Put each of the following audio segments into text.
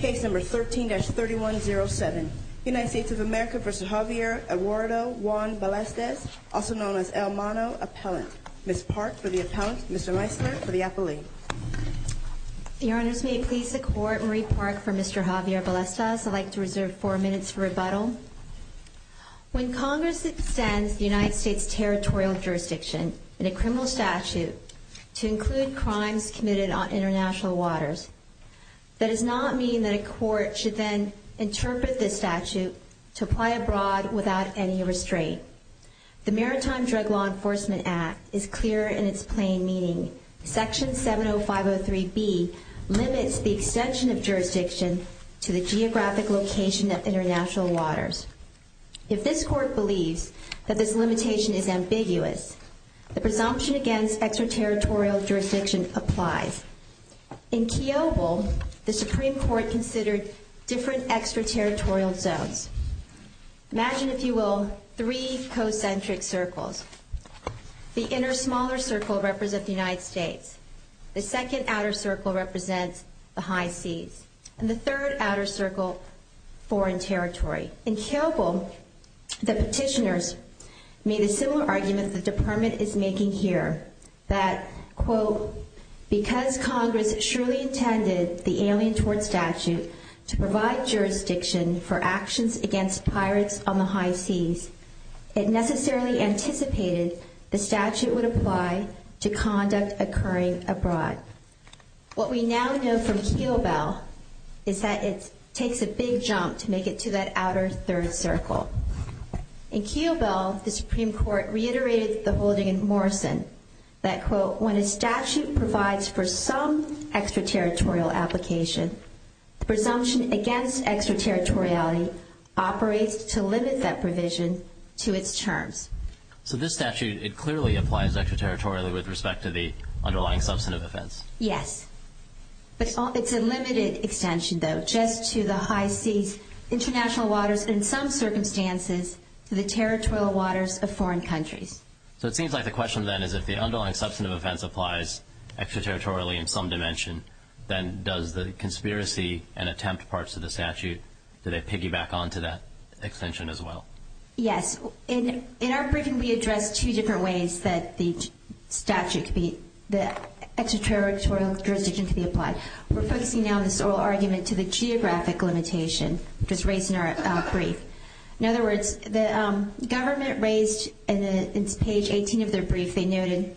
Case number 13-3107. United States of America v. Javier Eduardo Juan Ballestas, also known as El Mano Appellant. Ms. Park for the Appellant, Mr. Meisler for the Appellee. Your Honors, may it please the Court, Marie Park for Mr. Javier Ballestas. I'd like to reserve four minutes for rebuttal. When Congress extends the United States territorial jurisdiction in a criminal statute to include crimes committed on international waters, that does not mean that a court should then interpret this statute to apply abroad without any restraint. The Maritime Drug Law Enforcement Act is clear in its plain meaning. Section 70503B limits the extension of jurisdiction to the geographic location of international waters. If this Court believes that this limitation is ambiguous, the presumption against extraterritorial jurisdiction applies. In Kiobel, the Supreme Court considered different extraterritorial zones. Imagine, if you will, three co-centric circles. The inner smaller circle represents the United States. The second outer circle represents the high seas. And the third outer circle, foreign territory. In Kiobel, the petitioners made a similar argument the Department is making here. That, quote, because Congress surely intended the Alien Tort Statute to provide jurisdiction for actions against pirates on the high seas, it necessarily anticipated the statute would apply to conduct occurring abroad. What we now know from Kiobel is that it takes a big jump to make it to that outer third circle. In Kiobel, the Supreme Court reiterated the holding in Morrison. That, quote, when a statute provides for some extraterritorial application, the presumption against extraterritoriality operates to limit that provision to its terms. So this statute, it clearly applies extraterritorially with respect to the underlying substantive offense. Yes. It's a limited extension, though, just to the high seas, international waters, and in some circumstances to the territorial waters of foreign countries. So it seems like the question then is if the underlying substantive offense applies extraterritorially in some dimension, then does the conspiracy and attempt parts of the statute, do they piggyback on to that extension as well? Yes. In our briefing, we addressed two different ways that the statute could be, the extraterritorial jurisdiction could be applied. We're focusing now on this oral argument to the geographic limitation, which was raised in our brief. In other words, the government raised in page 18 of their brief, they noted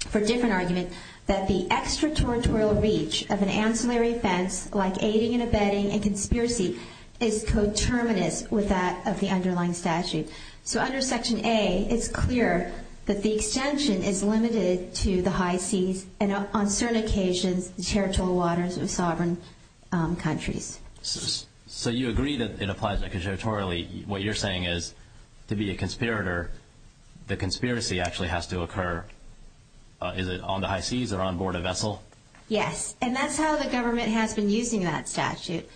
for a different argument, that the extraterritorial reach of an ancillary offense like aiding and abetting and conspiracy is coterminous with that of the underlying statute. So under section A, it's clear that the extension is limited to the high seas and on certain occasions the territorial waters of sovereign countries. So you agree that it applies extraterritorially. What you're saying is to be a conspirator, the conspiracy actually has to occur. Is it on the high seas or on board a vessel? Yes. And that's how the government has been using that statute.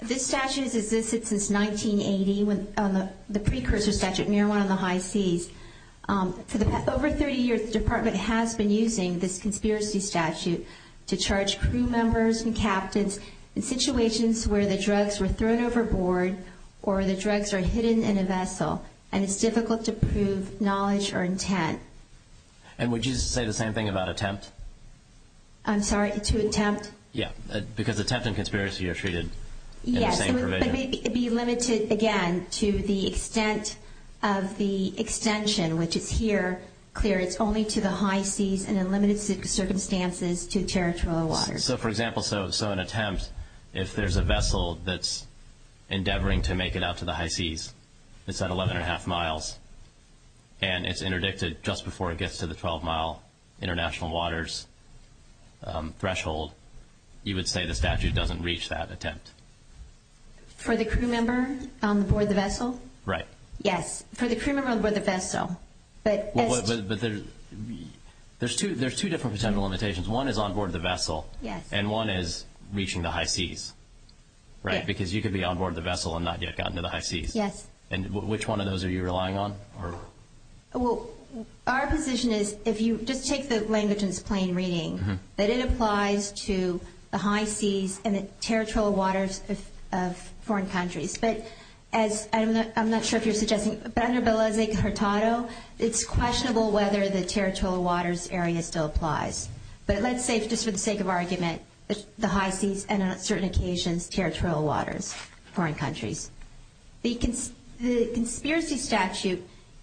This statute has existed since 1980, the precursor statute, marijuana on the high seas. For over 30 years, the department has been using this conspiracy statute to charge crew members and captains in situations where the drugs were thrown overboard or the drugs are hidden in a vessel and it's difficult to prove knowledge or intent. And would you say the same thing about attempt? I'm sorry, to attempt? Yeah, because attempt and conspiracy are treated in the same provision. Yes, but it may be limited, again, to the extent of the extension, which is here, clear. It's only to the high seas and in limited circumstances to territorial waters. So, for example, so an attempt, if there's a vessel that's endeavoring to make it out to the high seas, it's at 11 1⁄2 miles, and it's interdicted just before it gets to the 12-mile international waters threshold, you would say the statute doesn't reach that attempt. For the crew member on board the vessel? Right. Yes, for the crew member on board the vessel. But there's two different potential limitations. One is on board the vessel. Yes. And one is reaching the high seas, right, because you could be on board the vessel and not yet gotten to the high seas. Yes. And which one of those are you relying on? Well, our position is if you just take the language in its plain reading, that it applies to the high seas and the territorial waters of foreign countries. But as I'm not sure if you're suggesting, but under Beleza Cartado, it's questionable whether the territorial waters area still applies. But let's say, just for the sake of argument, the high seas and on certain occasions territorial waters, foreign countries. The conspiracy statute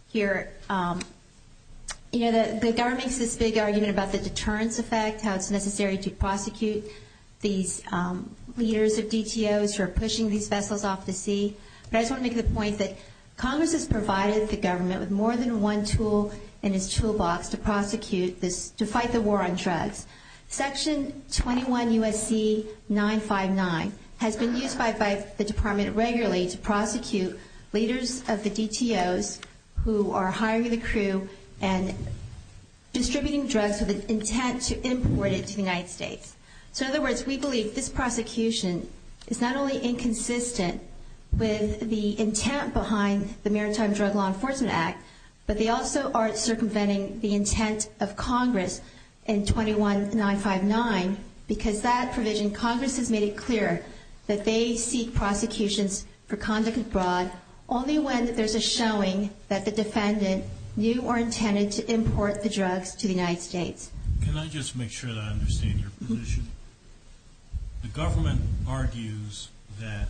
here, you know, the government makes this big argument about the deterrence effect, how it's necessary to prosecute these leaders of DTOs who are pushing these vessels off the sea. But I just want to make the point that Congress has provided the government with more than one tool in its toolbox to prosecute this, to fight the war on drugs. Section 21 U.S.C. 959 has been used by the Department regularly to prosecute leaders of the DTOs who are hiring the crew and distributing drugs with the intent to import it to the United States. So in other words, we believe this prosecution is not only inconsistent with the intent behind the Maritime Drug Law Enforcement Act, but they also aren't circumventing the intent of Congress in 21.959 because that provision, Congress has made it clear that they seek prosecutions for conduct abroad only when there's a showing that the defendant knew or intended to import the drugs to the United States. Can I just make sure that I understand your position? The government argues that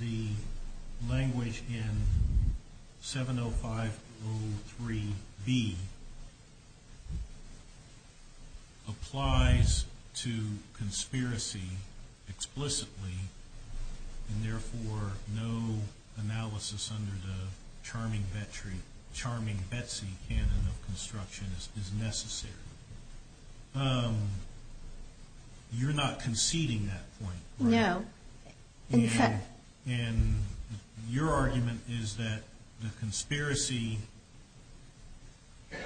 the language in 70503B applies to conspiracy explicitly and therefore no analysis under the charming Betsy canon of construction is necessary. You're not conceding that point, right? No. And your argument is that the conspiracy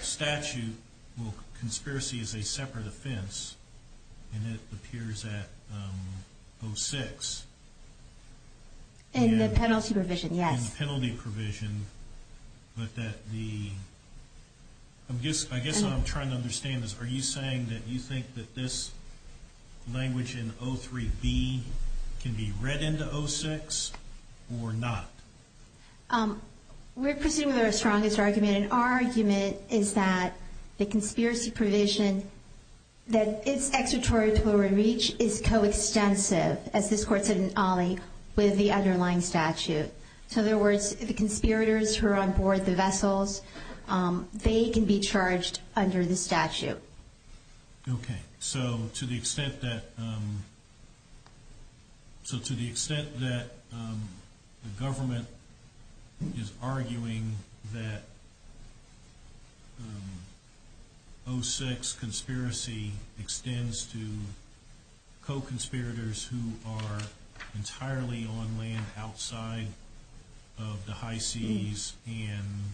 statute, well, conspiracy is a separate offense and it appears at 06. In the penalty provision, yes. But that the, I guess what I'm trying to understand is, are you saying that you think that this language in 03B can be read into 06 or not? We're presuming they're a strongest argument, and our argument is that the conspiracy provision, that its expiratory reach is coextensive, as this court said in OLLI, with the underlying statute. So in other words, the conspirators who are on board the vessels, they can be charged under the statute. Okay. So to the extent that the government is arguing that 06 conspiracy extends to co-conspirators who are entirely on land outside of the high seas and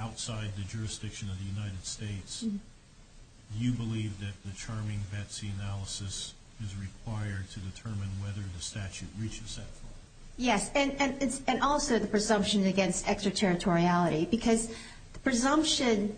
outside the jurisdiction of the United States, do you believe that the charming Betsy analysis is required to determine whether the statute reaches that point? Yes, and also the presumption against extraterritoriality, because the presumption,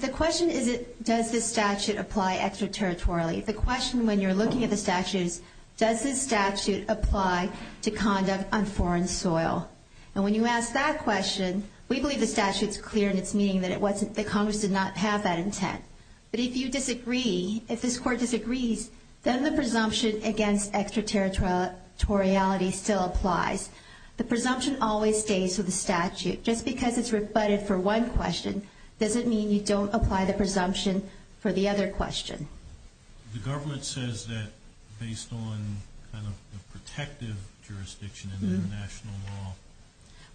the question is, does this statute apply extraterritorially? The question when you're looking at the statute is, does this statute apply to conduct on foreign soil? And when you ask that question, we believe the statute is clear in its meaning that Congress did not have that intent. But if you disagree, if this court disagrees, then the presumption against extraterritoriality still applies. The presumption always stays with the statute. Just because it's rebutted for one question, doesn't mean you don't apply the presumption for the other question. The government says that based on kind of the protective jurisdiction in international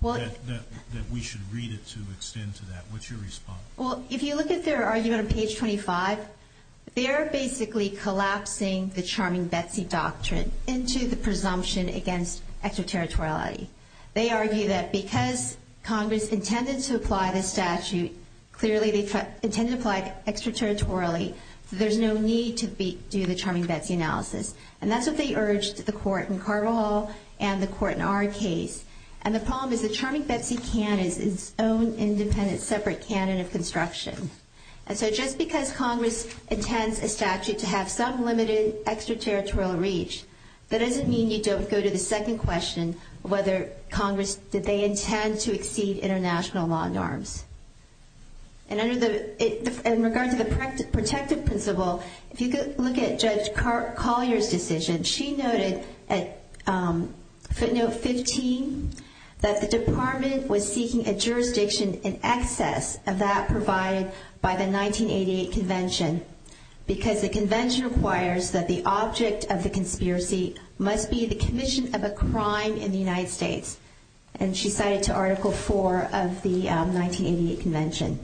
law, that we should read it to extend to that. What's your response? Well, if you look at their argument on page 25, they are basically collapsing the charming Betsy doctrine into the presumption against extraterritoriality. They argue that because Congress intended to apply this statute, clearly they intended to apply it extraterritorially, there's no need to do the charming Betsy analysis. And that's what they urged the court in Carvajal and the court in our case. And the problem is the charming Betsy canon is its own independent separate canon of construction. And so just because Congress intends a statute to have some limited extraterritorial reach, that doesn't mean you don't go to the second question, whether Congress, did they intend to exceed international law norms. And under the, in regard to the protective principle, if you look at Judge Collier's decision, she noted at footnote 15, that the department was seeking a jurisdiction in excess of that provided by the 1988 convention, because the convention requires that the object of the conspiracy must be the commission of a crime in the United States. And she cited to Article 4 of the 1988 convention.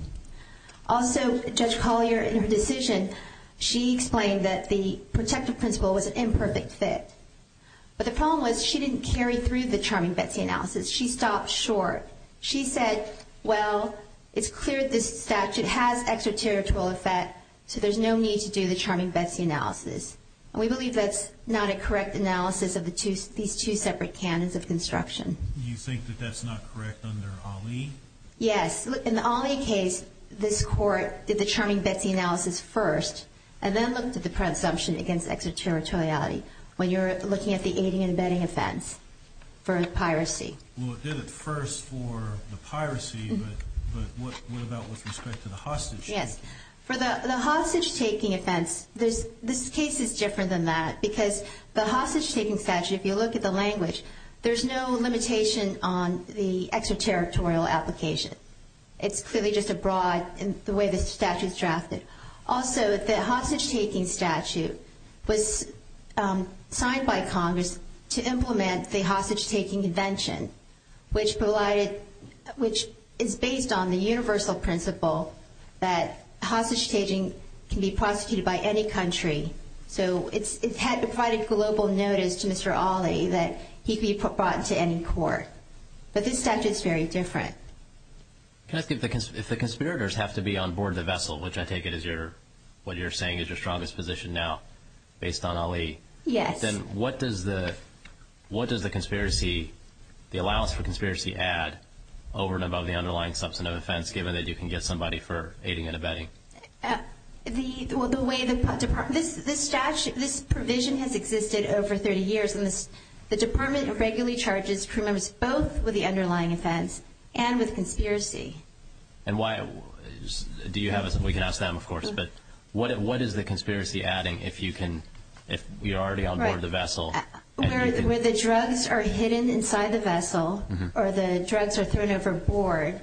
Also, Judge Collier in her decision, she explained that the protective principle was an imperfect fit. But the problem was she didn't carry through the charming Betsy analysis. She stopped short. She said, well, it's clear this statute has extraterritorial effect so there's no need to do the charming Betsy analysis. And we believe that's not a correct analysis of these two separate canons of construction. You think that that's not correct under Ali? Yes. In the Ali case, this court did the charming Betsy analysis first and then looked at the presumption against extraterritoriality when you're looking at the aiding and abetting offense for piracy. Well, it did it first for the piracy, but what about with respect to the hostage? Yes. For the hostage-taking offense, this case is different than that because the hostage-taking statute, if you look at the language, there's no limitation on the extraterritorial application. It's clearly just a broad in the way the statute's drafted. Also, the hostage-taking statute was signed by Congress to implement the hostage-taking convention, which is based on the universal principle that hostage-taking can be prosecuted by any country. So it provided global notice to Mr. Ali that he could be brought to any court. But this statute's very different. Can I ask you, if the conspirators have to be on board the vessel, which I take it is what you're saying is your strongest position now, based on Ali, Yes. then what does the conspiracy, the allowance for conspiracy, add over and above the underlying substantive offense, given that you can get somebody for aiding and abetting? The way the department, this provision has existed over 30 years, and the department regularly charges crewmembers both with the underlying offense and with conspiracy. And why, do you have, we can ask them, of course, but what is the conspiracy adding if you're already on board the vessel? Where the drugs are hidden inside the vessel or the drugs are thrown overboard,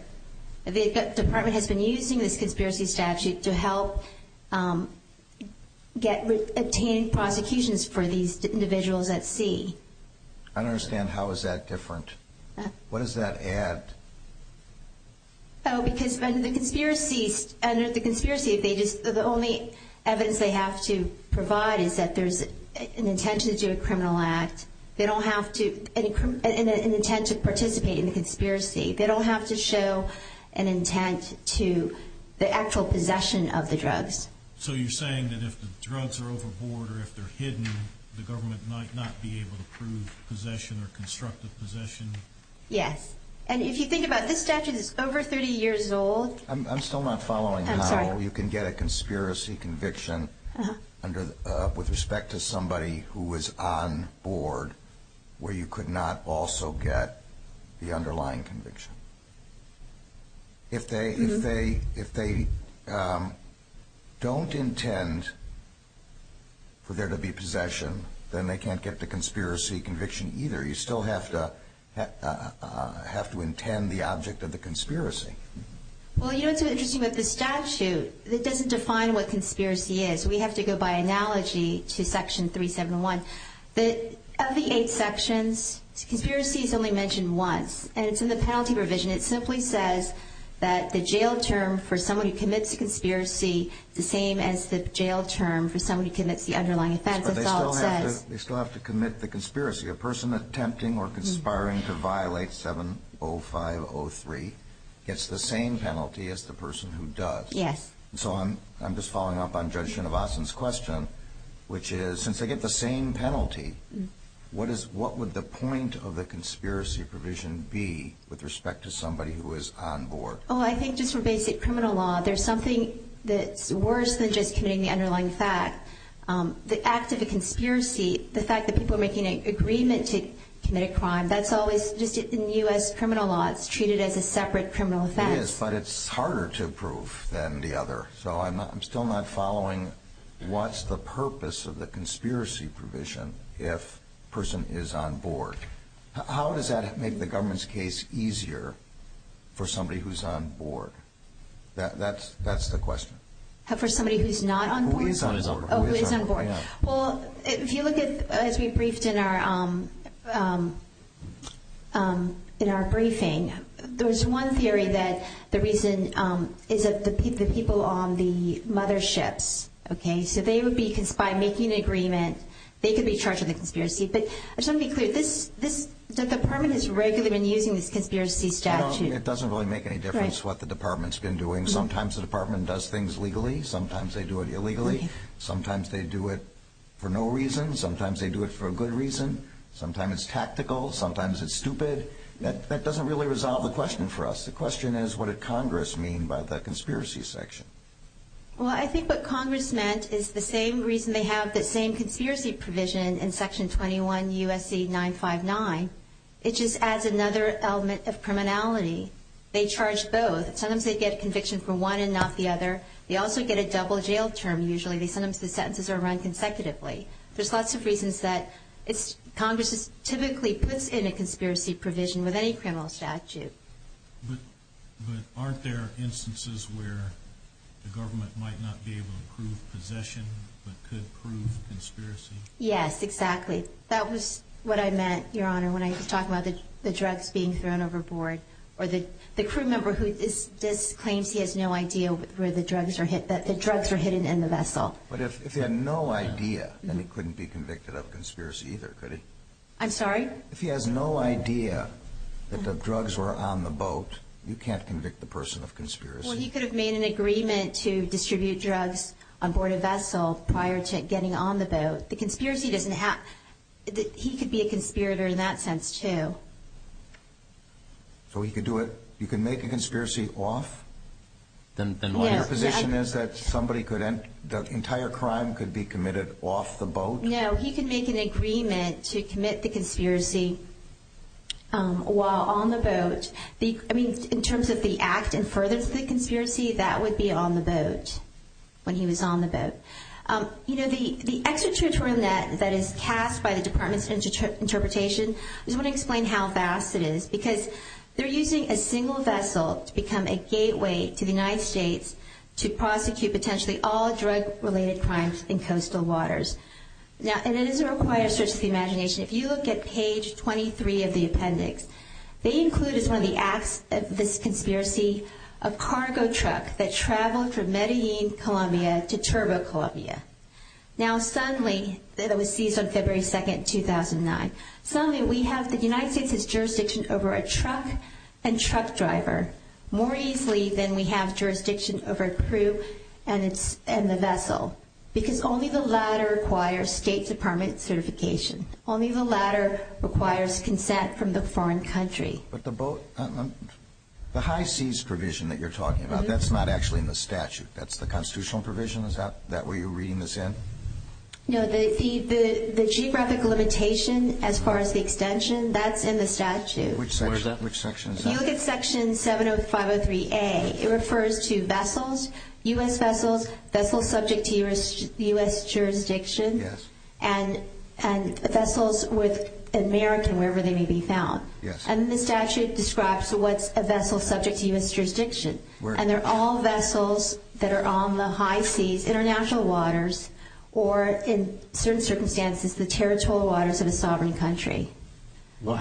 the department has been using this conspiracy statute to help obtain prosecutions for these individuals at sea. I don't understand how is that different. What does that add? Oh, because under the conspiracy, the only evidence they have to provide is that there's an intention to do a criminal act. They don't have an intent to participate in the conspiracy. They don't have to show an intent to the actual possession of the drugs. So you're saying that if the drugs are overboard or if they're hidden, the government might not be able to prove possession or constructive possession? Yes. And if you think about it, this statute is over 30 years old. I'm still not following how you can get a conspiracy conviction with respect to somebody who was on board where you could not also get the underlying conviction. If they don't intend for there to be possession, then they can't get the conspiracy conviction either. You still have to intend the object of the conspiracy. Well, you know what's so interesting about this statute? It doesn't define what conspiracy is. We have to go by analogy to Section 371. Of the eight sections, conspiracy is only mentioned once. And it's in the penalty provision. It simply says that the jail term for someone who commits a conspiracy is the same as the jail term for someone who commits the underlying offense. That's all it says. But they still have to commit the conspiracy. A person attempting or conspiring to violate 70503 gets the same penalty as the person who does. Yes. And so I'm just following up on Judge Shinovasan's question, which is since they get the same penalty, what would the point of the conspiracy provision be with respect to somebody who is on board? Oh, I think just for basic criminal law, there's something that's worse than just committing the underlying fact. The act of a conspiracy, the fact that people are making an agreement to commit a crime, that's always just in U.S. criminal law, it's treated as a separate criminal offense. It is, but it's harder to prove than the other. So I'm still not following what's the purpose of the conspiracy provision if a person is on board. How does that make the government's case easier for somebody who's on board? That's the question. For somebody who's not on board? For somebody who is on board. Oh, who is on board. Well, if you look at, as we briefed in our briefing, there was one theory that the reason is that the people on the motherships, okay, so they would be, by making an agreement, they could be charged with a conspiracy. But I just want to be clear, the department has regularly been using this conspiracy statute. It doesn't really make any difference what the department's been doing. Sometimes the department does things legally. Sometimes they do it illegally. Sometimes they do it for no reason. Sometimes they do it for a good reason. Sometimes it's tactical. Sometimes it's stupid. That doesn't really resolve the question for us. The question is, what did Congress mean by the conspiracy section? Well, I think what Congress meant is the same reason they have the same conspiracy provision in Section 21 U.S.C. 959. It just adds another element of criminality. They charge both. Sometimes they get a conviction for one and not the other. They also get a double jail term usually. Sometimes the sentences are run consecutively. There's lots of reasons that Congress typically puts in a conspiracy provision with any criminal statute. But aren't there instances where the government might not be able to prove possession but could prove conspiracy? Yes, exactly. That was what I meant, Your Honor, when I was talking about the drugs being thrown overboard or the crew member who claims he has no idea where the drugs are hidden in the vessel. But if he had no idea, then he couldn't be convicted of a conspiracy either, could he? I'm sorry? If he has no idea that the drugs were on the boat, you can't convict the person of conspiracy. Well, he could have made an agreement to distribute drugs on board a vessel prior to getting on the boat. He could be a conspirator in that sense too. So he could do it? You can make a conspiracy off? Yes. Your position is that the entire crime could be committed off the boat? No, he could make an agreement to commit the conspiracy while on the boat. In terms of the act and further to the conspiracy, that would be on the boat when he was on the boat. You know, the extraterritorial net that is cast by the Department of Interpretation, I just want to explain how vast it is because they're using a single vessel to become a gateway to the United States to prosecute potentially all drug-related crimes in coastal waters. Now, it is a required search of the imagination. If you look at page 23 of the appendix, they include as one of the acts of this conspiracy a cargo truck that traveled from Medellin, Colombia to Turbo, Colombia. Now, suddenly, it was seized on February 2, 2009. Suddenly, we have the United States' jurisdiction over a truck and truck driver more easily than we have jurisdiction over a crew and the vessel because only the latter requires State Department certification. Only the latter requires consent from the foreign country. But the high-seas provision that you're talking about, that's not actually in the statute. That's the constitutional provision? Is that what you're reading this in? No, the geographic limitation as far as the extension, that's in the statute. Which section is that? If you look at Section 70503A, it refers to vessels, U.S. vessels, vessels subject to U.S. jurisdiction, and vessels with American, wherever they may be found. And the statute describes what's a vessel subject to U.S. jurisdiction. And they're all vessels that are on the high seas, international waters, or in certain circumstances, the territorial waters of a sovereign country. In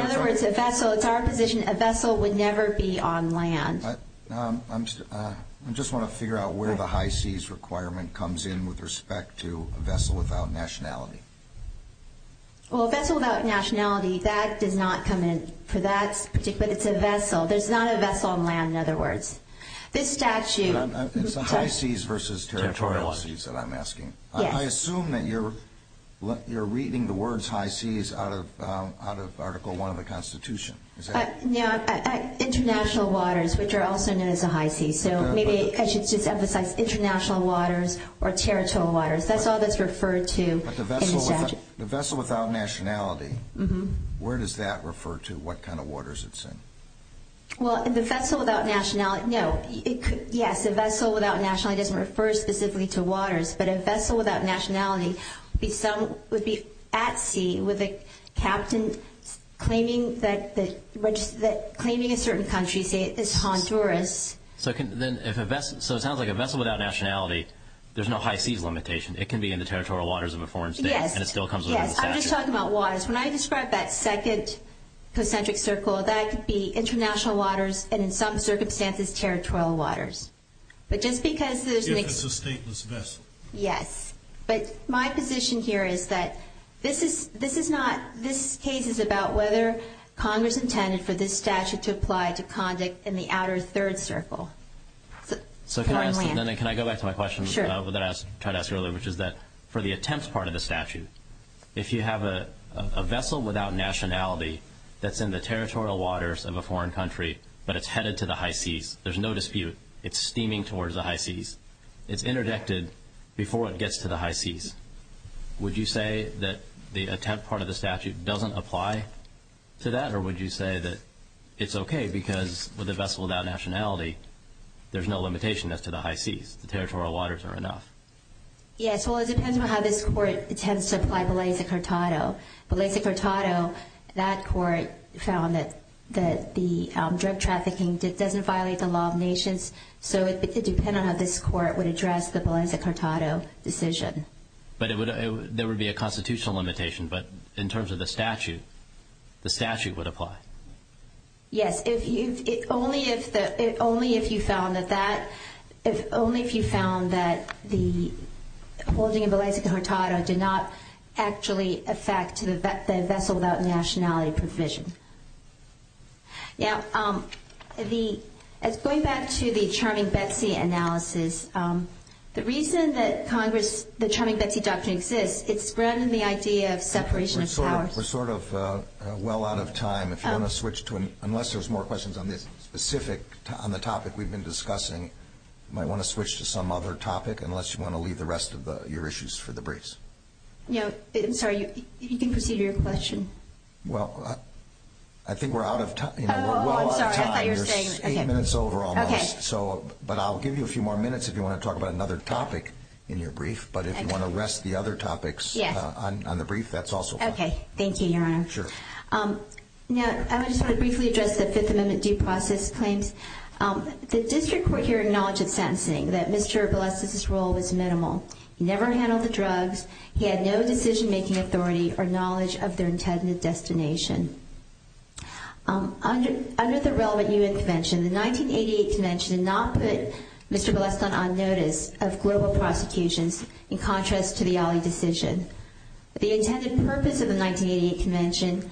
other words, a vessel, it's our position, a vessel would never be on land. I just want to figure out where the high-seas requirement comes in with respect to a vessel without nationality. Well, a vessel without nationality, that does not come in for that. But it's a vessel. There's not a vessel on land, in other words. It's the high seas versus territorial seas that I'm asking. I assume that you're reading the words high seas out of Article I of the Constitution. International waters, which are also known as the high seas. So maybe I should just emphasize international waters or territorial waters. That's all that's referred to in the statute. But the vessel without nationality, where does that refer to? What kind of waters it's in? Well, the vessel without nationality, no. Yes, a vessel without nationality doesn't refer specifically to waters. But a vessel without nationality would be at sea with a captain claiming a certain country, say Honduras. So it sounds like a vessel without nationality, there's no high seas limitation. It can be in the territorial waters of a foreign state, and it still comes within the statute. Yes, I'm just talking about waters. When I describe that second concentric circle, that could be international waters, and in some circumstances, territorial waters. But just because there's an ex— If it's a stateless vessel. Yes. But my position here is that this is not— Congress intended for this statute to apply to conduct in the outer third circle. So can I go back to my question that I tried to ask earlier, which is that for the attempts part of the statute, if you have a vessel without nationality that's in the territorial waters of a foreign country, but it's headed to the high seas, there's no dispute. It's steaming towards the high seas. It's interjected before it gets to the high seas. Would you say that the attempt part of the statute doesn't apply to that, or would you say that it's okay because with a vessel without nationality, there's no limitation as to the high seas. The territorial waters are enough. Yes. Well, it depends on how this court intends to apply Beleza-Curtado. Beleza-Curtado, that court found that the drug trafficking doesn't violate the law of nations, so it would depend on how this court would address the Beleza-Curtado decision. But there would be a constitutional limitation, but in terms of the statute, the statute would apply. Yes. Only if you found that the holding of Beleza-Curtado did not actually affect the vessel without nationality provision. Going back to the Charming Betsy analysis, the reason that the Charming Betsy doctrine exists, it's spread in the idea of separation of powers. We're sort of well out of time. Unless there's more questions on the topic we've been discussing, you might want to switch to some other topic unless you want to leave the rest of your issues for the briefs. I'm sorry, you can proceed with your question. Well, I think we're out of time. Oh, I'm sorry, I thought you were saying- You're eight minutes over almost. Okay. But I'll give you a few more minutes if you want to talk about another topic in your brief, but if you want to rest the other topics on the brief, that's also fine. Okay, thank you, Your Honor. Sure. Now, I just want to briefly address the Fifth Amendment due process claims. The district court here acknowledged in sentencing that Mr. Beleza-Curtado's role was minimal. He never handled the drugs. He had no decision-making authority or knowledge of their intended destination. Under the relevant U.N. Convention, the 1988 Convention did not put Mr. Beleza-Curtado on notice of global prosecutions in contrast to the Ali decision. The intended purpose of the 1988 Convention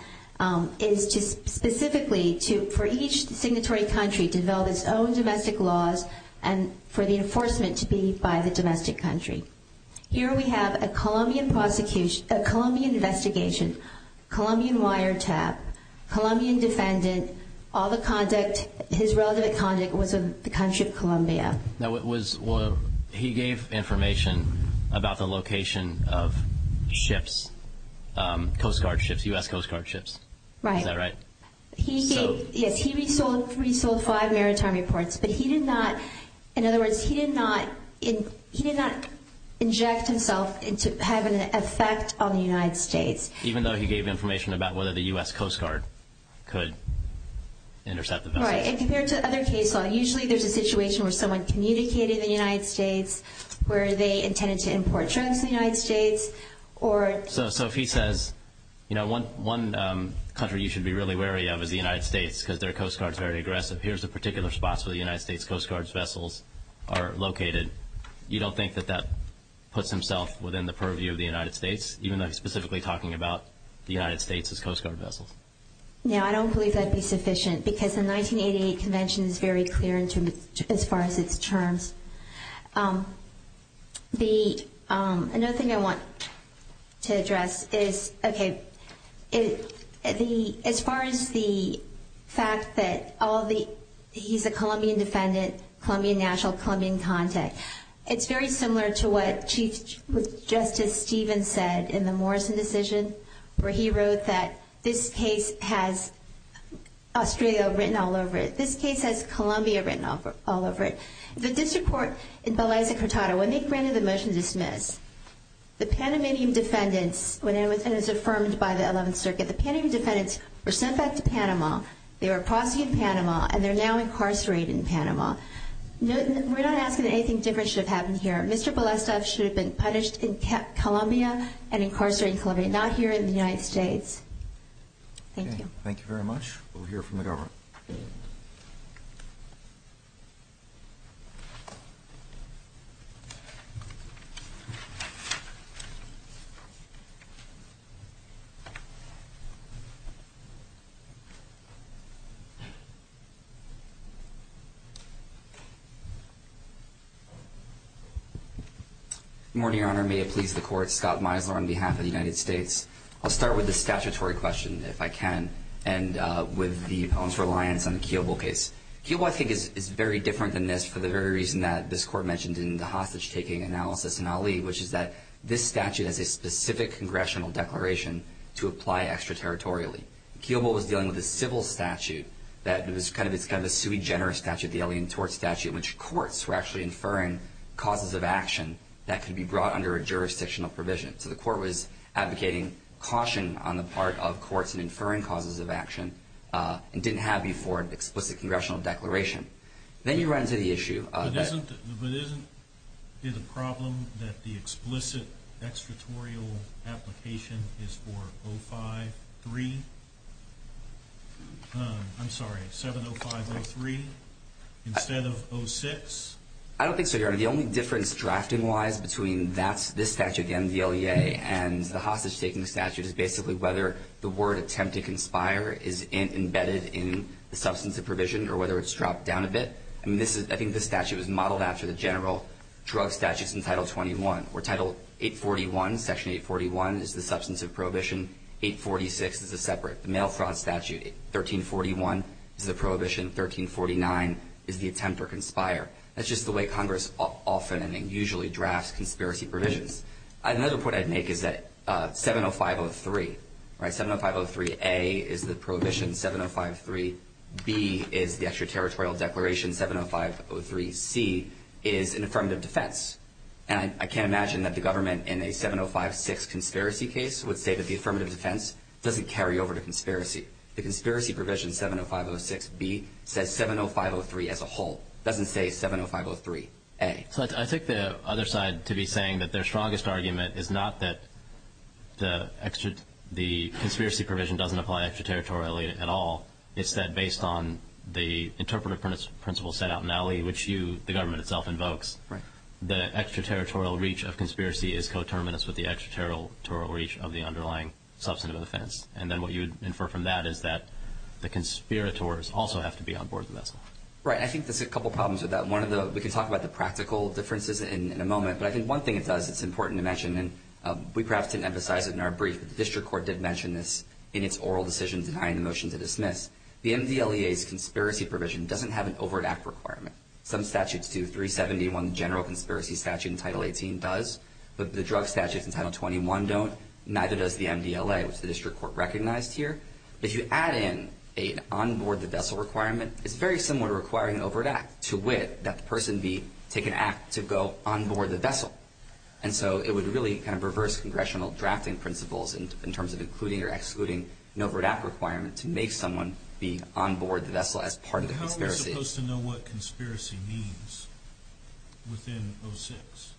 is to specifically for each signatory country to develop its own domestic laws and for the enforcement to be by the domestic country. Here we have a Colombian investigation, Colombian wiretap, Colombian defendant, all the conduct, his relative conduct was of the country of Colombia. Now, he gave information about the location of ships, Coast Guard ships, U.S. Coast Guard ships. Right. Is that right? Yes. He resold five maritime reports, but he did not, in other words, he did not inject himself to have an effect on the United States. Even though he gave information about whether the U.S. Coast Guard could intercept the vessel. Right. And compared to other case law, usually there's a situation where someone communicated in the United States, where they intended to import drugs in the United States, or... So if he says, you know, one country you should be really wary of is the United States because their Coast Guard is very aggressive. Here's the particular spots where the United States Coast Guard's vessels are located. You don't think that that puts himself within the purview of the United States, even though he's specifically talking about the United States as Coast Guard vessels? No, I don't believe that would be sufficient because the 1988 Convention is very clear as far as its terms. Another thing I want to address is, okay, as far as the fact that he's a Colombian defendant, Colombian national, Colombian contact, it's very similar to what Chief Justice Stevens said in the Morrison decision, where he wrote that this case has Australia written all over it. This case has Colombia written all over it. The district court in Palazzo Cortado, when they granted the motion to dismiss, the Panamanian defendants, when it was affirmed by the 11th Circuit, the Panamanian defendants were sent back to Panama. They were a prosecutor in Panama, and they're now incarcerated in Panama. We're not asking that anything different should have happened here. Mr. Balesta should have been punished in Colombia and incarcerated in Colombia, not here in the United States. Thank you. Thank you very much. We'll hear from the government. Good morning, Your Honor. May it please the Court. Scott Misler on behalf of the United States. I'll start with the statutory question, if I can, and with the opponent's reliance on the Kiobo case. Kiobo, I think, is very different than this for the very reason that this Court mentioned in the hostage-taking analysis in Ali, which is that this statute has a specific congressional declaration to apply extraterritorially. Kiobo was dealing with a civil statute that was kind of a sui generis statute, the alien tort statute, in which courts were actually inferring causes of action that could be brought under a jurisdictional provision. So the Court was advocating caution on the part of courts in inferring causes of action and didn't have you for an explicit congressional declaration. Then you run into the issue. But isn't it a problem that the explicit extraterritorial application is for 05-3? I'm sorry, 705-03 instead of 06? I don't think so, Your Honor. The only difference drafting-wise between this statute and the LEA and the hostage-taking statute is basically whether the word attempt to conspire is embedded in the substance of provision or whether it's dropped down a bit. I think this statute was modeled after the general drug statutes in Title 21. For Title 841, Section 841 is the substance of prohibition. 846 is a separate. The mail fraud statute, 1341, is the prohibition. 1349 is the attempt or conspire. That's just the way Congress often and usually drafts conspiracy provisions. Another point I'd make is that 705-03, 705-03-A is the prohibition, 705-03-B is the extraterritorial declaration, 705-03-C is an affirmative defense. And I can't imagine that the government in a 705-6 conspiracy case would say that the affirmative defense doesn't carry over to conspiracy. The conspiracy provision, 705-06-B, says 705-03 as a whole. It doesn't say 705-03-A. So I take the other side to be saying that their strongest argument is not that the conspiracy provision doesn't apply extraterritorially at all. It's that based on the interpretive principle set out in Ali, which the government itself invokes, the extraterritorial reach of conspiracy is coterminous with the extraterritorial reach of the underlying substance of defense. And then what you infer from that is that the conspirators also have to be on board the vessel. Right. I think there's a couple problems with that. We can talk about the practical differences in a moment. But I think one thing it does, it's important to mention, and we perhaps didn't emphasize it in our brief, but the district court did mention this in its oral decision denying the motion to dismiss. The MDLEA's conspiracy provision doesn't have an overt act requirement. Some statutes do. 371, the general conspiracy statute in Title 18, does. But the drug statute in Title 21 don't. Neither does the MDLA, which the district court recognized here. If you add in an on board the vessel requirement, it's very similar to requiring an overt act, to wit, that the person be, take an act to go on board the vessel. And so it would really kind of reverse congressional drafting principles in terms of including or excluding an overt act requirement to make someone be on board the vessel as part of the conspiracy. How are we supposed to know what conspiracy means within 06?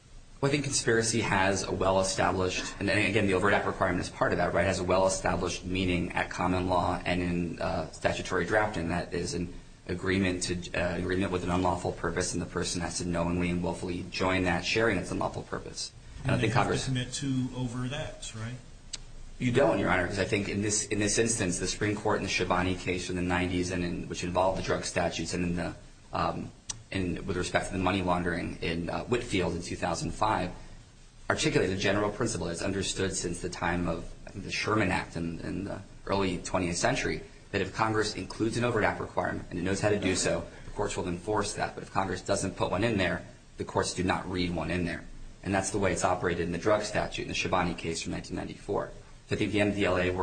I think conspiracy has a well-established, and again, the overt act requirement is part of that, right, has a well-established meaning at common law and in statutory drafting that is an agreement with an unlawful purpose and the person has to knowingly and willfully join that, sharing its unlawful purpose. And they have to submit to overt acts, right? You don't, Your Honor, because I think in this instance, the Supreme Court in the Schiavone case in the 90s, which involved the drug statutes and with respect to the money laundering in Whitfield in 2005, articulated a general principle that's understood since the time of the Sherman Act in the early 20th century, that if Congress includes an overt act requirement and it knows how to do so, the courts will enforce that. But if Congress doesn't put one in there, the courts do not read one in there. And that's the way it's operated in the drug statute in the Schiavone case from 1994. I think the MDLEA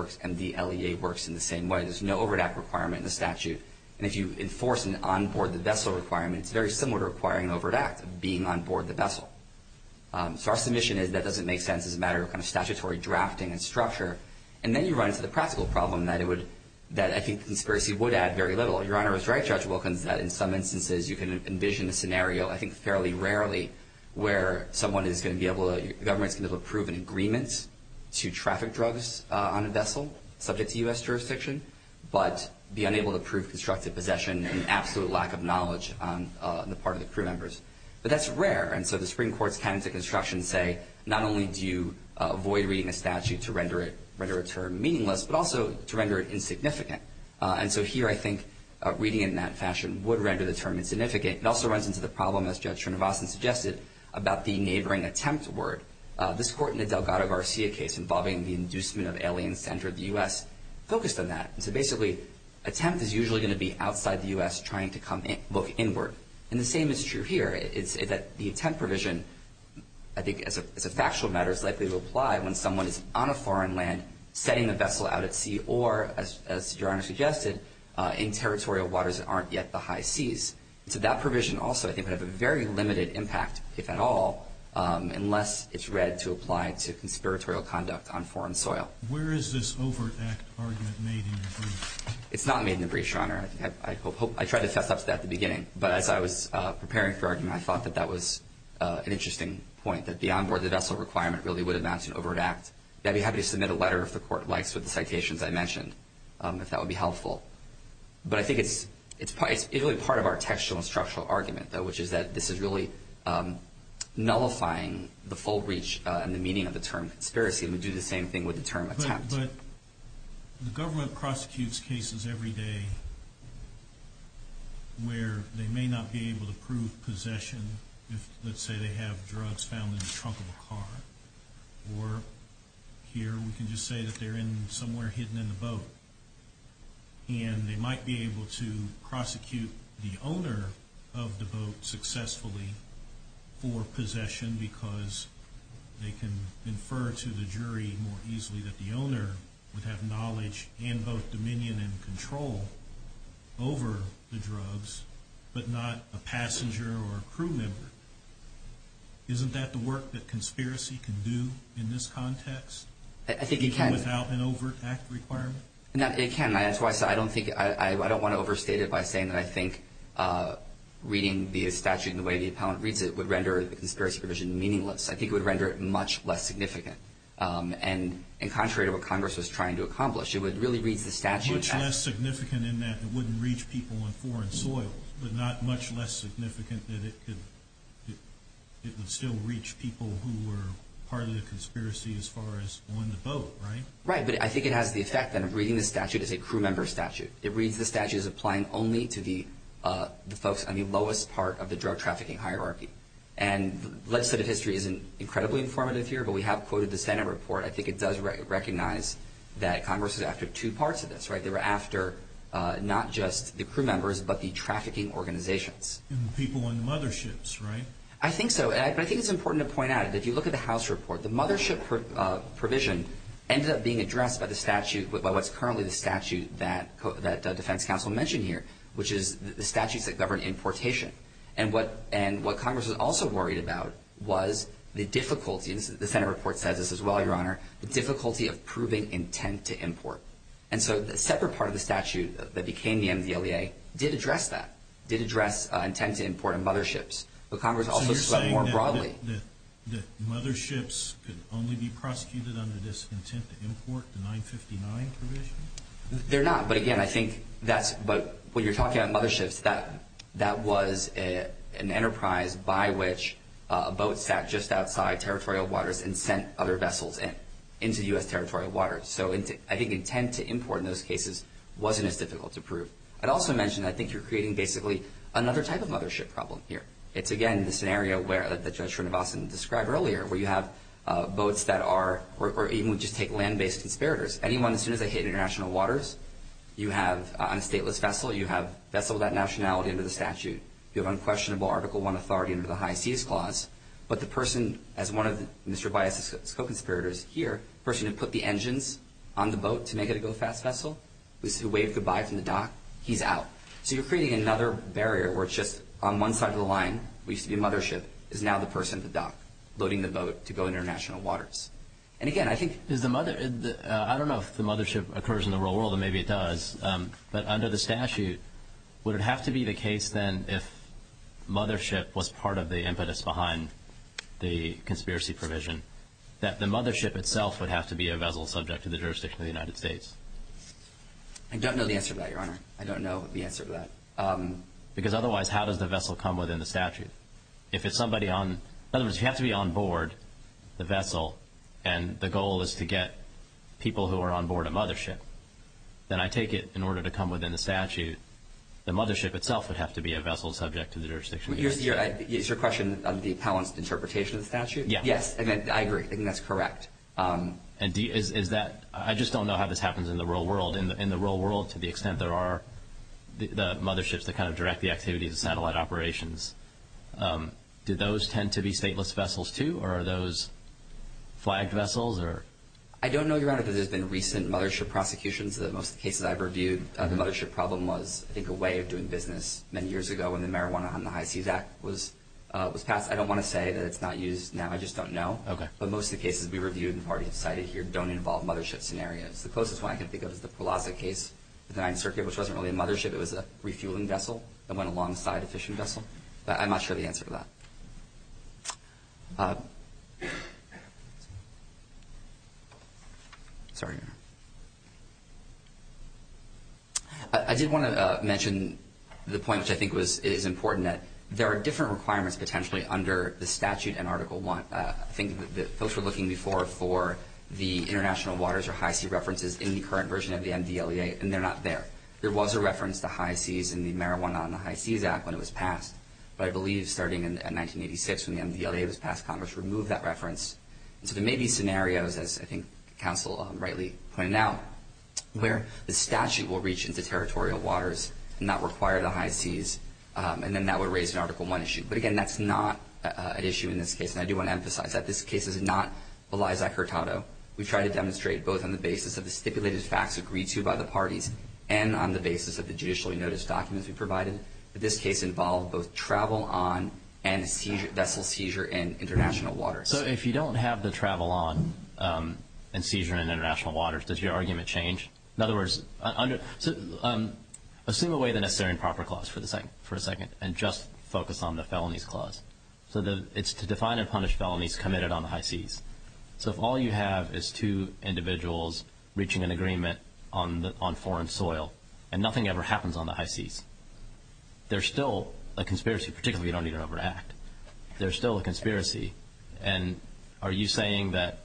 works in the same way. There's no overt act requirement in the statute. And if you enforce an on-board-the-vessel requirement, it's very similar to requiring an overt act of being on-board the vessel. So our submission is that doesn't make sense as a matter of statutory drafting and structure. And then you run into the practical problem that I think the conspiracy would add very little. Your Honor is right, Judge Wilkins, that in some instances you can envision a scenario, I think fairly rarely, where someone is going to be able to, the government is going to be able to approve an agreement to traffic drugs on a vessel, subject to U.S. jurisdiction, but be unable to prove constructive possession and absolute lack of knowledge on the part of the crew members. But that's rare. And so the Supreme Court's candidate instructions say not only do you avoid reading a statute to render it meaningless, but also to render it insignificant. And so here I think reading it in that fashion would render the term insignificant. It also runs into the problem, as Judge Trinovasan suggested, about the neighboring attempt word. This court in the Delgado-Garcia case involving the inducement of aliens to enter the U.S. focused on that. And so basically attempt is usually going to be outside the U.S. trying to come in, look inward. And the same is true here. It's that the attempt provision, I think as a factual matter, is likely to apply when someone is on a foreign land setting the vessel out at sea or, as Your Honor suggested, in territorial waters that aren't yet the high seas. So that provision also, I think, would have a very limited impact, if at all, unless it's read to apply to conspiratorial conduct on foreign soil. Where is this overt act argument made in the brief? It's not made in the brief, Your Honor. I tried to fess up to that at the beginning. But as I was preparing for argument, I thought that that was an interesting point, that beyond where the vessel requirement really would amount to an overt act. I'd be happy to submit a letter, if the Court likes, with the citations I mentioned, if that would be helpful. But I think it's really part of our textual and structural argument, though, which is that this is really nullifying the full reach and the meaning of the term conspiracy. And we do the same thing with the term attempt. But the government prosecutes cases every day where they may not be able to prove possession if, let's say, they have drugs found in the trunk of a car. Or here we can just say that they're in somewhere hidden in the boat. And they might be able to prosecute the owner of the boat successfully for possession because they can infer to the jury more easily that the owner would have knowledge and both dominion and control over the drugs, but not a passenger or a crew member. Isn't that the work that conspiracy can do in this context? I think it can. Even without an overt act requirement? No, it can. That's why I said I don't want to overstate it by saying that I think reading the statute in the way the appellant reads it would render the conspiracy provision meaningless. I think it would render it much less significant. And contrary to what Congress was trying to accomplish, it would really read the statute as Much less significant in that it wouldn't reach people on foreign soil, but not much less significant that it would still reach people who were part of the conspiracy as far as on the boat, right? Right, but I think it has the effect that reading the statute is a crew member statute. It reads the statute as applying only to the folks on the lowest part of the drug trafficking hierarchy. And legislative history isn't incredibly informative here, but we have quoted the Senate report. I think it does recognize that Congress is after two parts of this. They were after not just the crew members, but the trafficking organizations. And the people on the motherships, right? I think so. But I think it's important to point out that if you look at the House report, the mothership provision ended up being addressed by the statute, by what's currently the statute that defense counsel mentioned here, which is the statutes that govern importation. And what Congress was also worried about was the difficulty, and the Senate report says this as well, Your Honor, the difficulty of proving intent to import. And so the separate part of the statute that became the MDLEA did address that, did address intent to import on motherships. But Congress also spoke more broadly. So you're saying that motherships can only be prosecuted under this intent to import, the 959 provision? They're not. But again, I think that's what you're talking about, motherships. That was an enterprise by which a boat sat just outside territorial waters and sent other vessels into U.S. territorial waters. So I think intent to import in those cases wasn't as difficult to prove. I'd also mention that I think you're creating basically another type of mothership problem here. It's, again, the scenario that Judge Srinivasan described earlier, where you have boats that are or even just take land-based conspirators. Anyone, as soon as they hit international waters, you have on a stateless vessel, you have vessel without nationality under the statute. You have unquestionable Article I authority under the High Seas Clause. But the person, as one of Mr. Baez's co-conspirators here, the person who put the engines on the boat to make it a go-fast vessel, who waved goodbye from the dock, he's out. So you're creating another barrier where it's just on one side of the line, used to be a mothership, is now the person at the dock loading the boat to go international waters. And, again, I think— I don't know if the mothership occurs in the real world, and maybe it does. But under the statute, would it have to be the case, then, if mothership was part of the impetus behind the conspiracy provision, that the mothership itself would have to be a vessel subject to the jurisdiction of the United States? I don't know the answer to that, Your Honor. I don't know the answer to that. Because otherwise, how does the vessel come within the statute? If it's somebody on—in other words, you have to be on board the vessel, and the goal is to get people who are on board a mothership. Then I take it, in order to come within the statute, the mothership itself would have to be a vessel subject to the jurisdiction of the United States. Is your question on the balanced interpretation of the statute? Yes. Yes, I agree. I think that's correct. And is that—I just don't know how this happens in the real world. In the real world, to the extent there are the motherships that kind of direct the activities of satellite operations, do those tend to be stateless vessels, too, or are those flagged vessels? I don't know, Your Honor, that there's been recent mothership prosecutions. Most of the cases I've reviewed, the mothership problem was, I think, a way of doing business many years ago when the Marijuana on the High Seas Act was passed. I don't want to say that it's not used now. I just don't know. Okay. But most of the cases we reviewed and have already cited here don't involve mothership scenarios. The closest one I can think of is the Pulaski case with the 9th Circuit, which wasn't really a mothership. It was a refueling vessel that went alongside a fishing vessel. But I'm not sure of the answer to that. Sorry, Your Honor. I did want to mention the point, which I think is important, that there are different requirements potentially under the statute in Article I. I think that folks were looking before for the international waters or high sea references in the current version of the MDLEA, and they're not there. There was a reference to high seas in the Marijuana on the High Seas Act when it was passed. But I believe starting in 1986 when the MDLEA was passed, Congress removed that reference. And so there may be scenarios, as I think counsel rightly pointed out, where the statute will reach into territorial waters and not require the high seas, and then that would raise an Article I issue. But, again, that's not an issue in this case. And I do want to emphasize that this case is not Eliza Hurtado. We tried to demonstrate both on the basis of the stipulated facts agreed to by the parties and on the basis of the judicially noticed documents we provided. But this case involved both travel on and vessel seizure in international waters. So if you don't have the travel on and seizure in international waters, does your argument change? In other words, assume away the necessary and proper clause for a second and just focus on the felonies clause. So it's to define and punish felonies committed on the high seas. So if all you have is two individuals reaching an agreement on foreign soil and nothing ever happens on the high seas, there's still a conspiracy, particularly if you don't need to overact. There's still a conspiracy. And are you saying that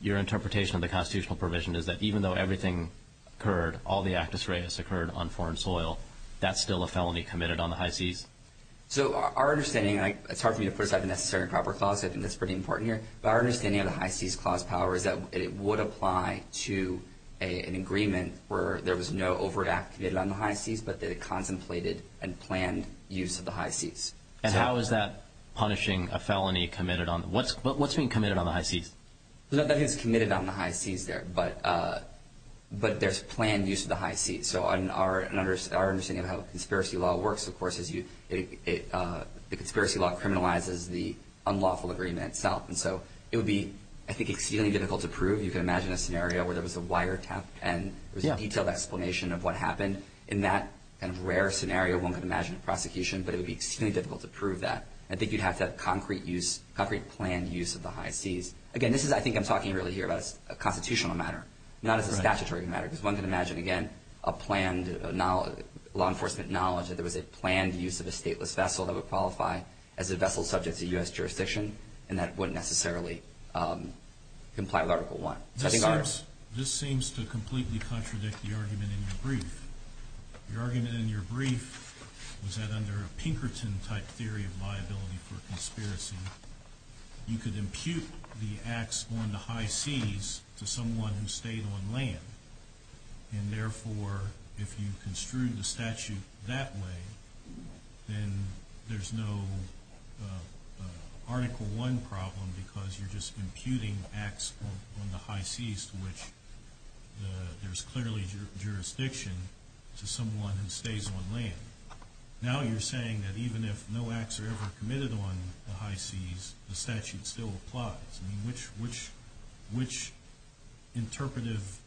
your interpretation of the constitutional provision is that even though everything occurred, all the actus reus occurred on foreign soil, that's still a felony committed on the high seas? So our understanding, and it's hard for me to put aside the necessary and proper clause, I think that's pretty important here, but our understanding of the high seas clause power is that it would apply to an agreement where there was no overact committed on the high seas, but the contemplated and planned use of the high seas. And how is that punishing a felony committed on? What's being committed on the high seas? That is committed on the high seas there, but there's planned use of the high seas. So our understanding of how conspiracy law works, of course, is the conspiracy law criminalizes the unlawful agreement itself. And so it would be, I think, extremely difficult to prove. You can imagine a scenario where there was a wiretap and there was a detailed explanation of what happened. In that kind of rare scenario, one could imagine a prosecution, but it would be extremely difficult to prove that. I think you'd have to have concrete planned use of the high seas. Again, this is, I think I'm talking really here about a constitutional matter, not as a statutory matter because one can imagine, again, a planned law enforcement knowledge that there was a planned use of a stateless vessel that would qualify as a vessel subject to U.S. jurisdiction, and that wouldn't necessarily comply with Article I. This seems to completely contradict the argument in your brief. The argument in your brief was that under a Pinkerton-type theory of liability for conspiracy, you could impute the acts on the high seas to someone who stayed on land. And therefore, if you construed the statute that way, then there's no Article I problem because you're just imputing acts on the high seas to which there's clearly jurisdiction to someone who stays on land. Now you're saying that even if no acts are ever committed on the high seas, the statute still applies. I mean, which interpretive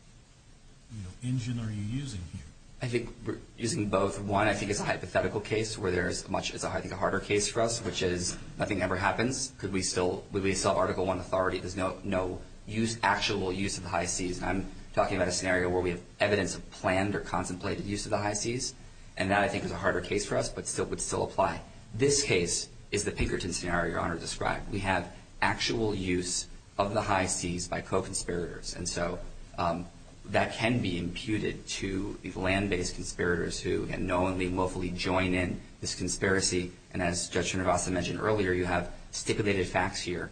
engine are you using here? I think we're using both. One, I think it's a hypothetical case where there's much, I think, a harder case for us, which is nothing ever happens because we still have Article I authority. There's no actual use of the high seas. And I'm talking about a scenario where we have evidence of planned or contemplated use of the high seas, and that, I think, is a harder case for us but would still apply. This case is the Pinkerton scenario Your Honor described. We have actual use of the high seas by co-conspirators, and so that can be imputed to land-based conspirators who can knowingly and willfully join in this conspiracy. And as Judge Trenovasa mentioned earlier, you have stipulated facts here,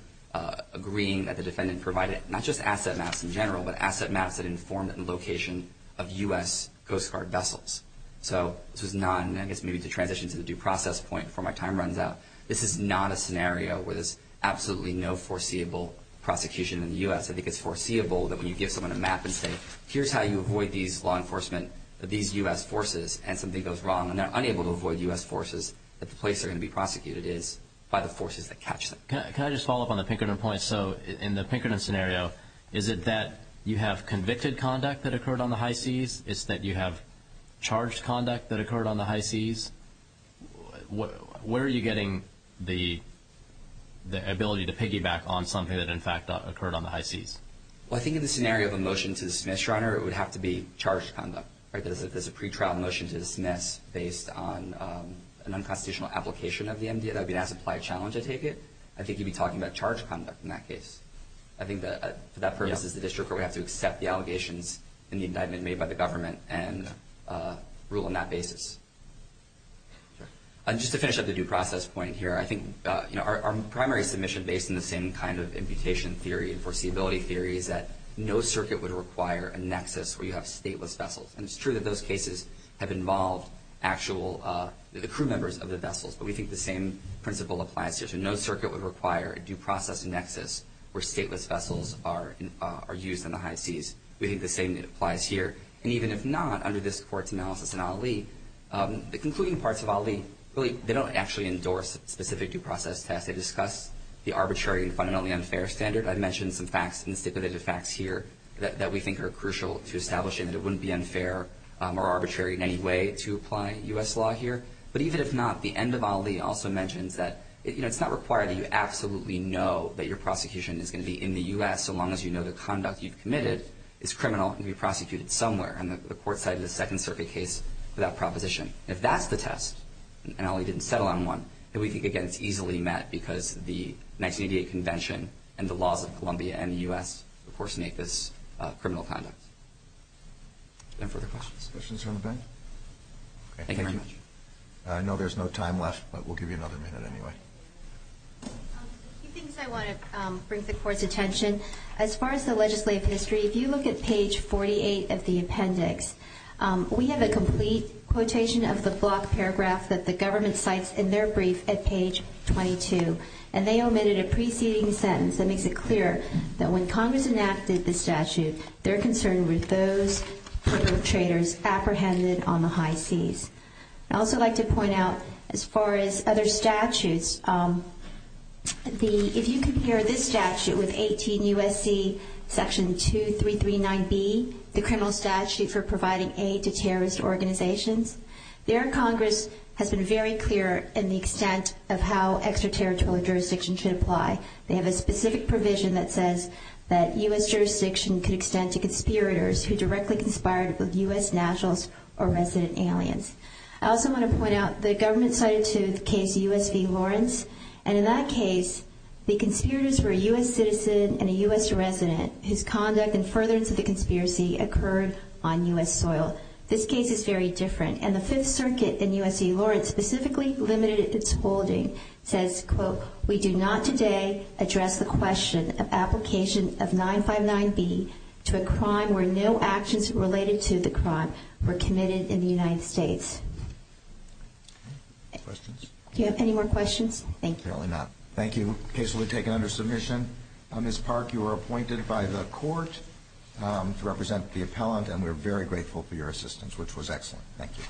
agreeing that the defendant provided not just asset maps in general, but asset maps that informed the location of U.S. Coast Guard vessels. So this was not, and I guess maybe to transition to the due process point before my time runs out, this is not a scenario where there's absolutely no foreseeable prosecution in the U.S. I think it's foreseeable that when you give someone a map and say, here's how you avoid these law enforcement, these U.S. forces, and something goes wrong, and they're unable to avoid U.S. forces, that the place they're going to be prosecuted is by the forces that catch them. Can I just follow up on the Pinkerton point? So in the Pinkerton scenario, is it that you have convicted conduct that occurred on the high seas? Is it that you have charged conduct that occurred on the high seas? Where are you getting the ability to piggyback on something that, in fact, occurred on the high seas? Well, I think in the scenario of a motion to dismiss, Your Honor, it would have to be charged conduct. There's a pretrial motion to dismiss based on an unconstitutional application of the MDA. That would be an as-implied challenge, I take it. I think you'd be talking about charged conduct in that case. I think that for that purpose is the district where we have to accept the allegations and the indictment made by the government and rule on that basis. Just to finish up the due process point here, I think our primary submission, based on the same kind of imputation theory and foreseeability theory, is that no circuit would require a nexus where you have stateless vessels. And it's true that those cases have involved actual crew members of the vessels, but we think the same principle applies here. So no circuit would require a due process nexus where stateless vessels are used on the high seas. We think the same applies here. And even if not, under this Court's analysis in Ali, the concluding parts of Ali, they don't actually endorse specific due process tests. They discuss the arbitrary and fundamentally unfair standard. I mentioned some facts and stipulated facts here that we think are crucial to establishing that it wouldn't be unfair or arbitrary in any way to apply U.S. law here. But even if not, the end of Ali also mentions that it's not required that you absolutely know that your prosecution is going to be in the U.S. so long as you know the conduct you've committed is criminal and can be prosecuted somewhere. And the Court cited a Second Circuit case without proposition. If that's the test, and Ali didn't settle on one, then we think, again, it's easily met because the 1988 Convention and the laws of Colombia and the U.S. of course make this criminal conduct. Any further questions? Questions from the panel? Thank you very much. I know there's no time left, but we'll give you another minute anyway. A few things I want to bring to the Court's attention. As far as the legislative history, if you look at page 48 of the appendix, we have a complete quotation of the block paragraph that the government cites in their brief at page 22. And they omitted a preceding sentence that makes it clear that when Congress enacted the statute, their concern were those who were traitors apprehended on the high seas. I'd also like to point out, as far as other statutes, if you compare this statute with 18 U.S.C. Section 2339B, the Criminal Statute for Providing Aid to Terrorist Organizations, their Congress has been very clear in the extent of how extraterritorial jurisdiction should apply. They have a specific provision that says that U.S. jurisdiction could extend to conspirators who directly conspired with U.S. nationals or resident aliens. I also want to point out the government cited to the case U.S. v. Lawrence. And in that case, the conspirators were a U.S. citizen and a U.S. resident, whose conduct and furtherance of the conspiracy occurred on U.S. soil. This case is very different. And the Fifth Circuit in U.S. v. Lawrence specifically limited its holding. It says, quote, we do not today address the question of application of 959B to a crime where no actions related to the crime were committed in the United States. Questions? Do you have any more questions? Thank you. Apparently not. Thank you. The case will be taken under submission. Ms. Park, you were appointed by the court to represent the appellant, and we're very grateful for your assistance, which was excellent. Thank you.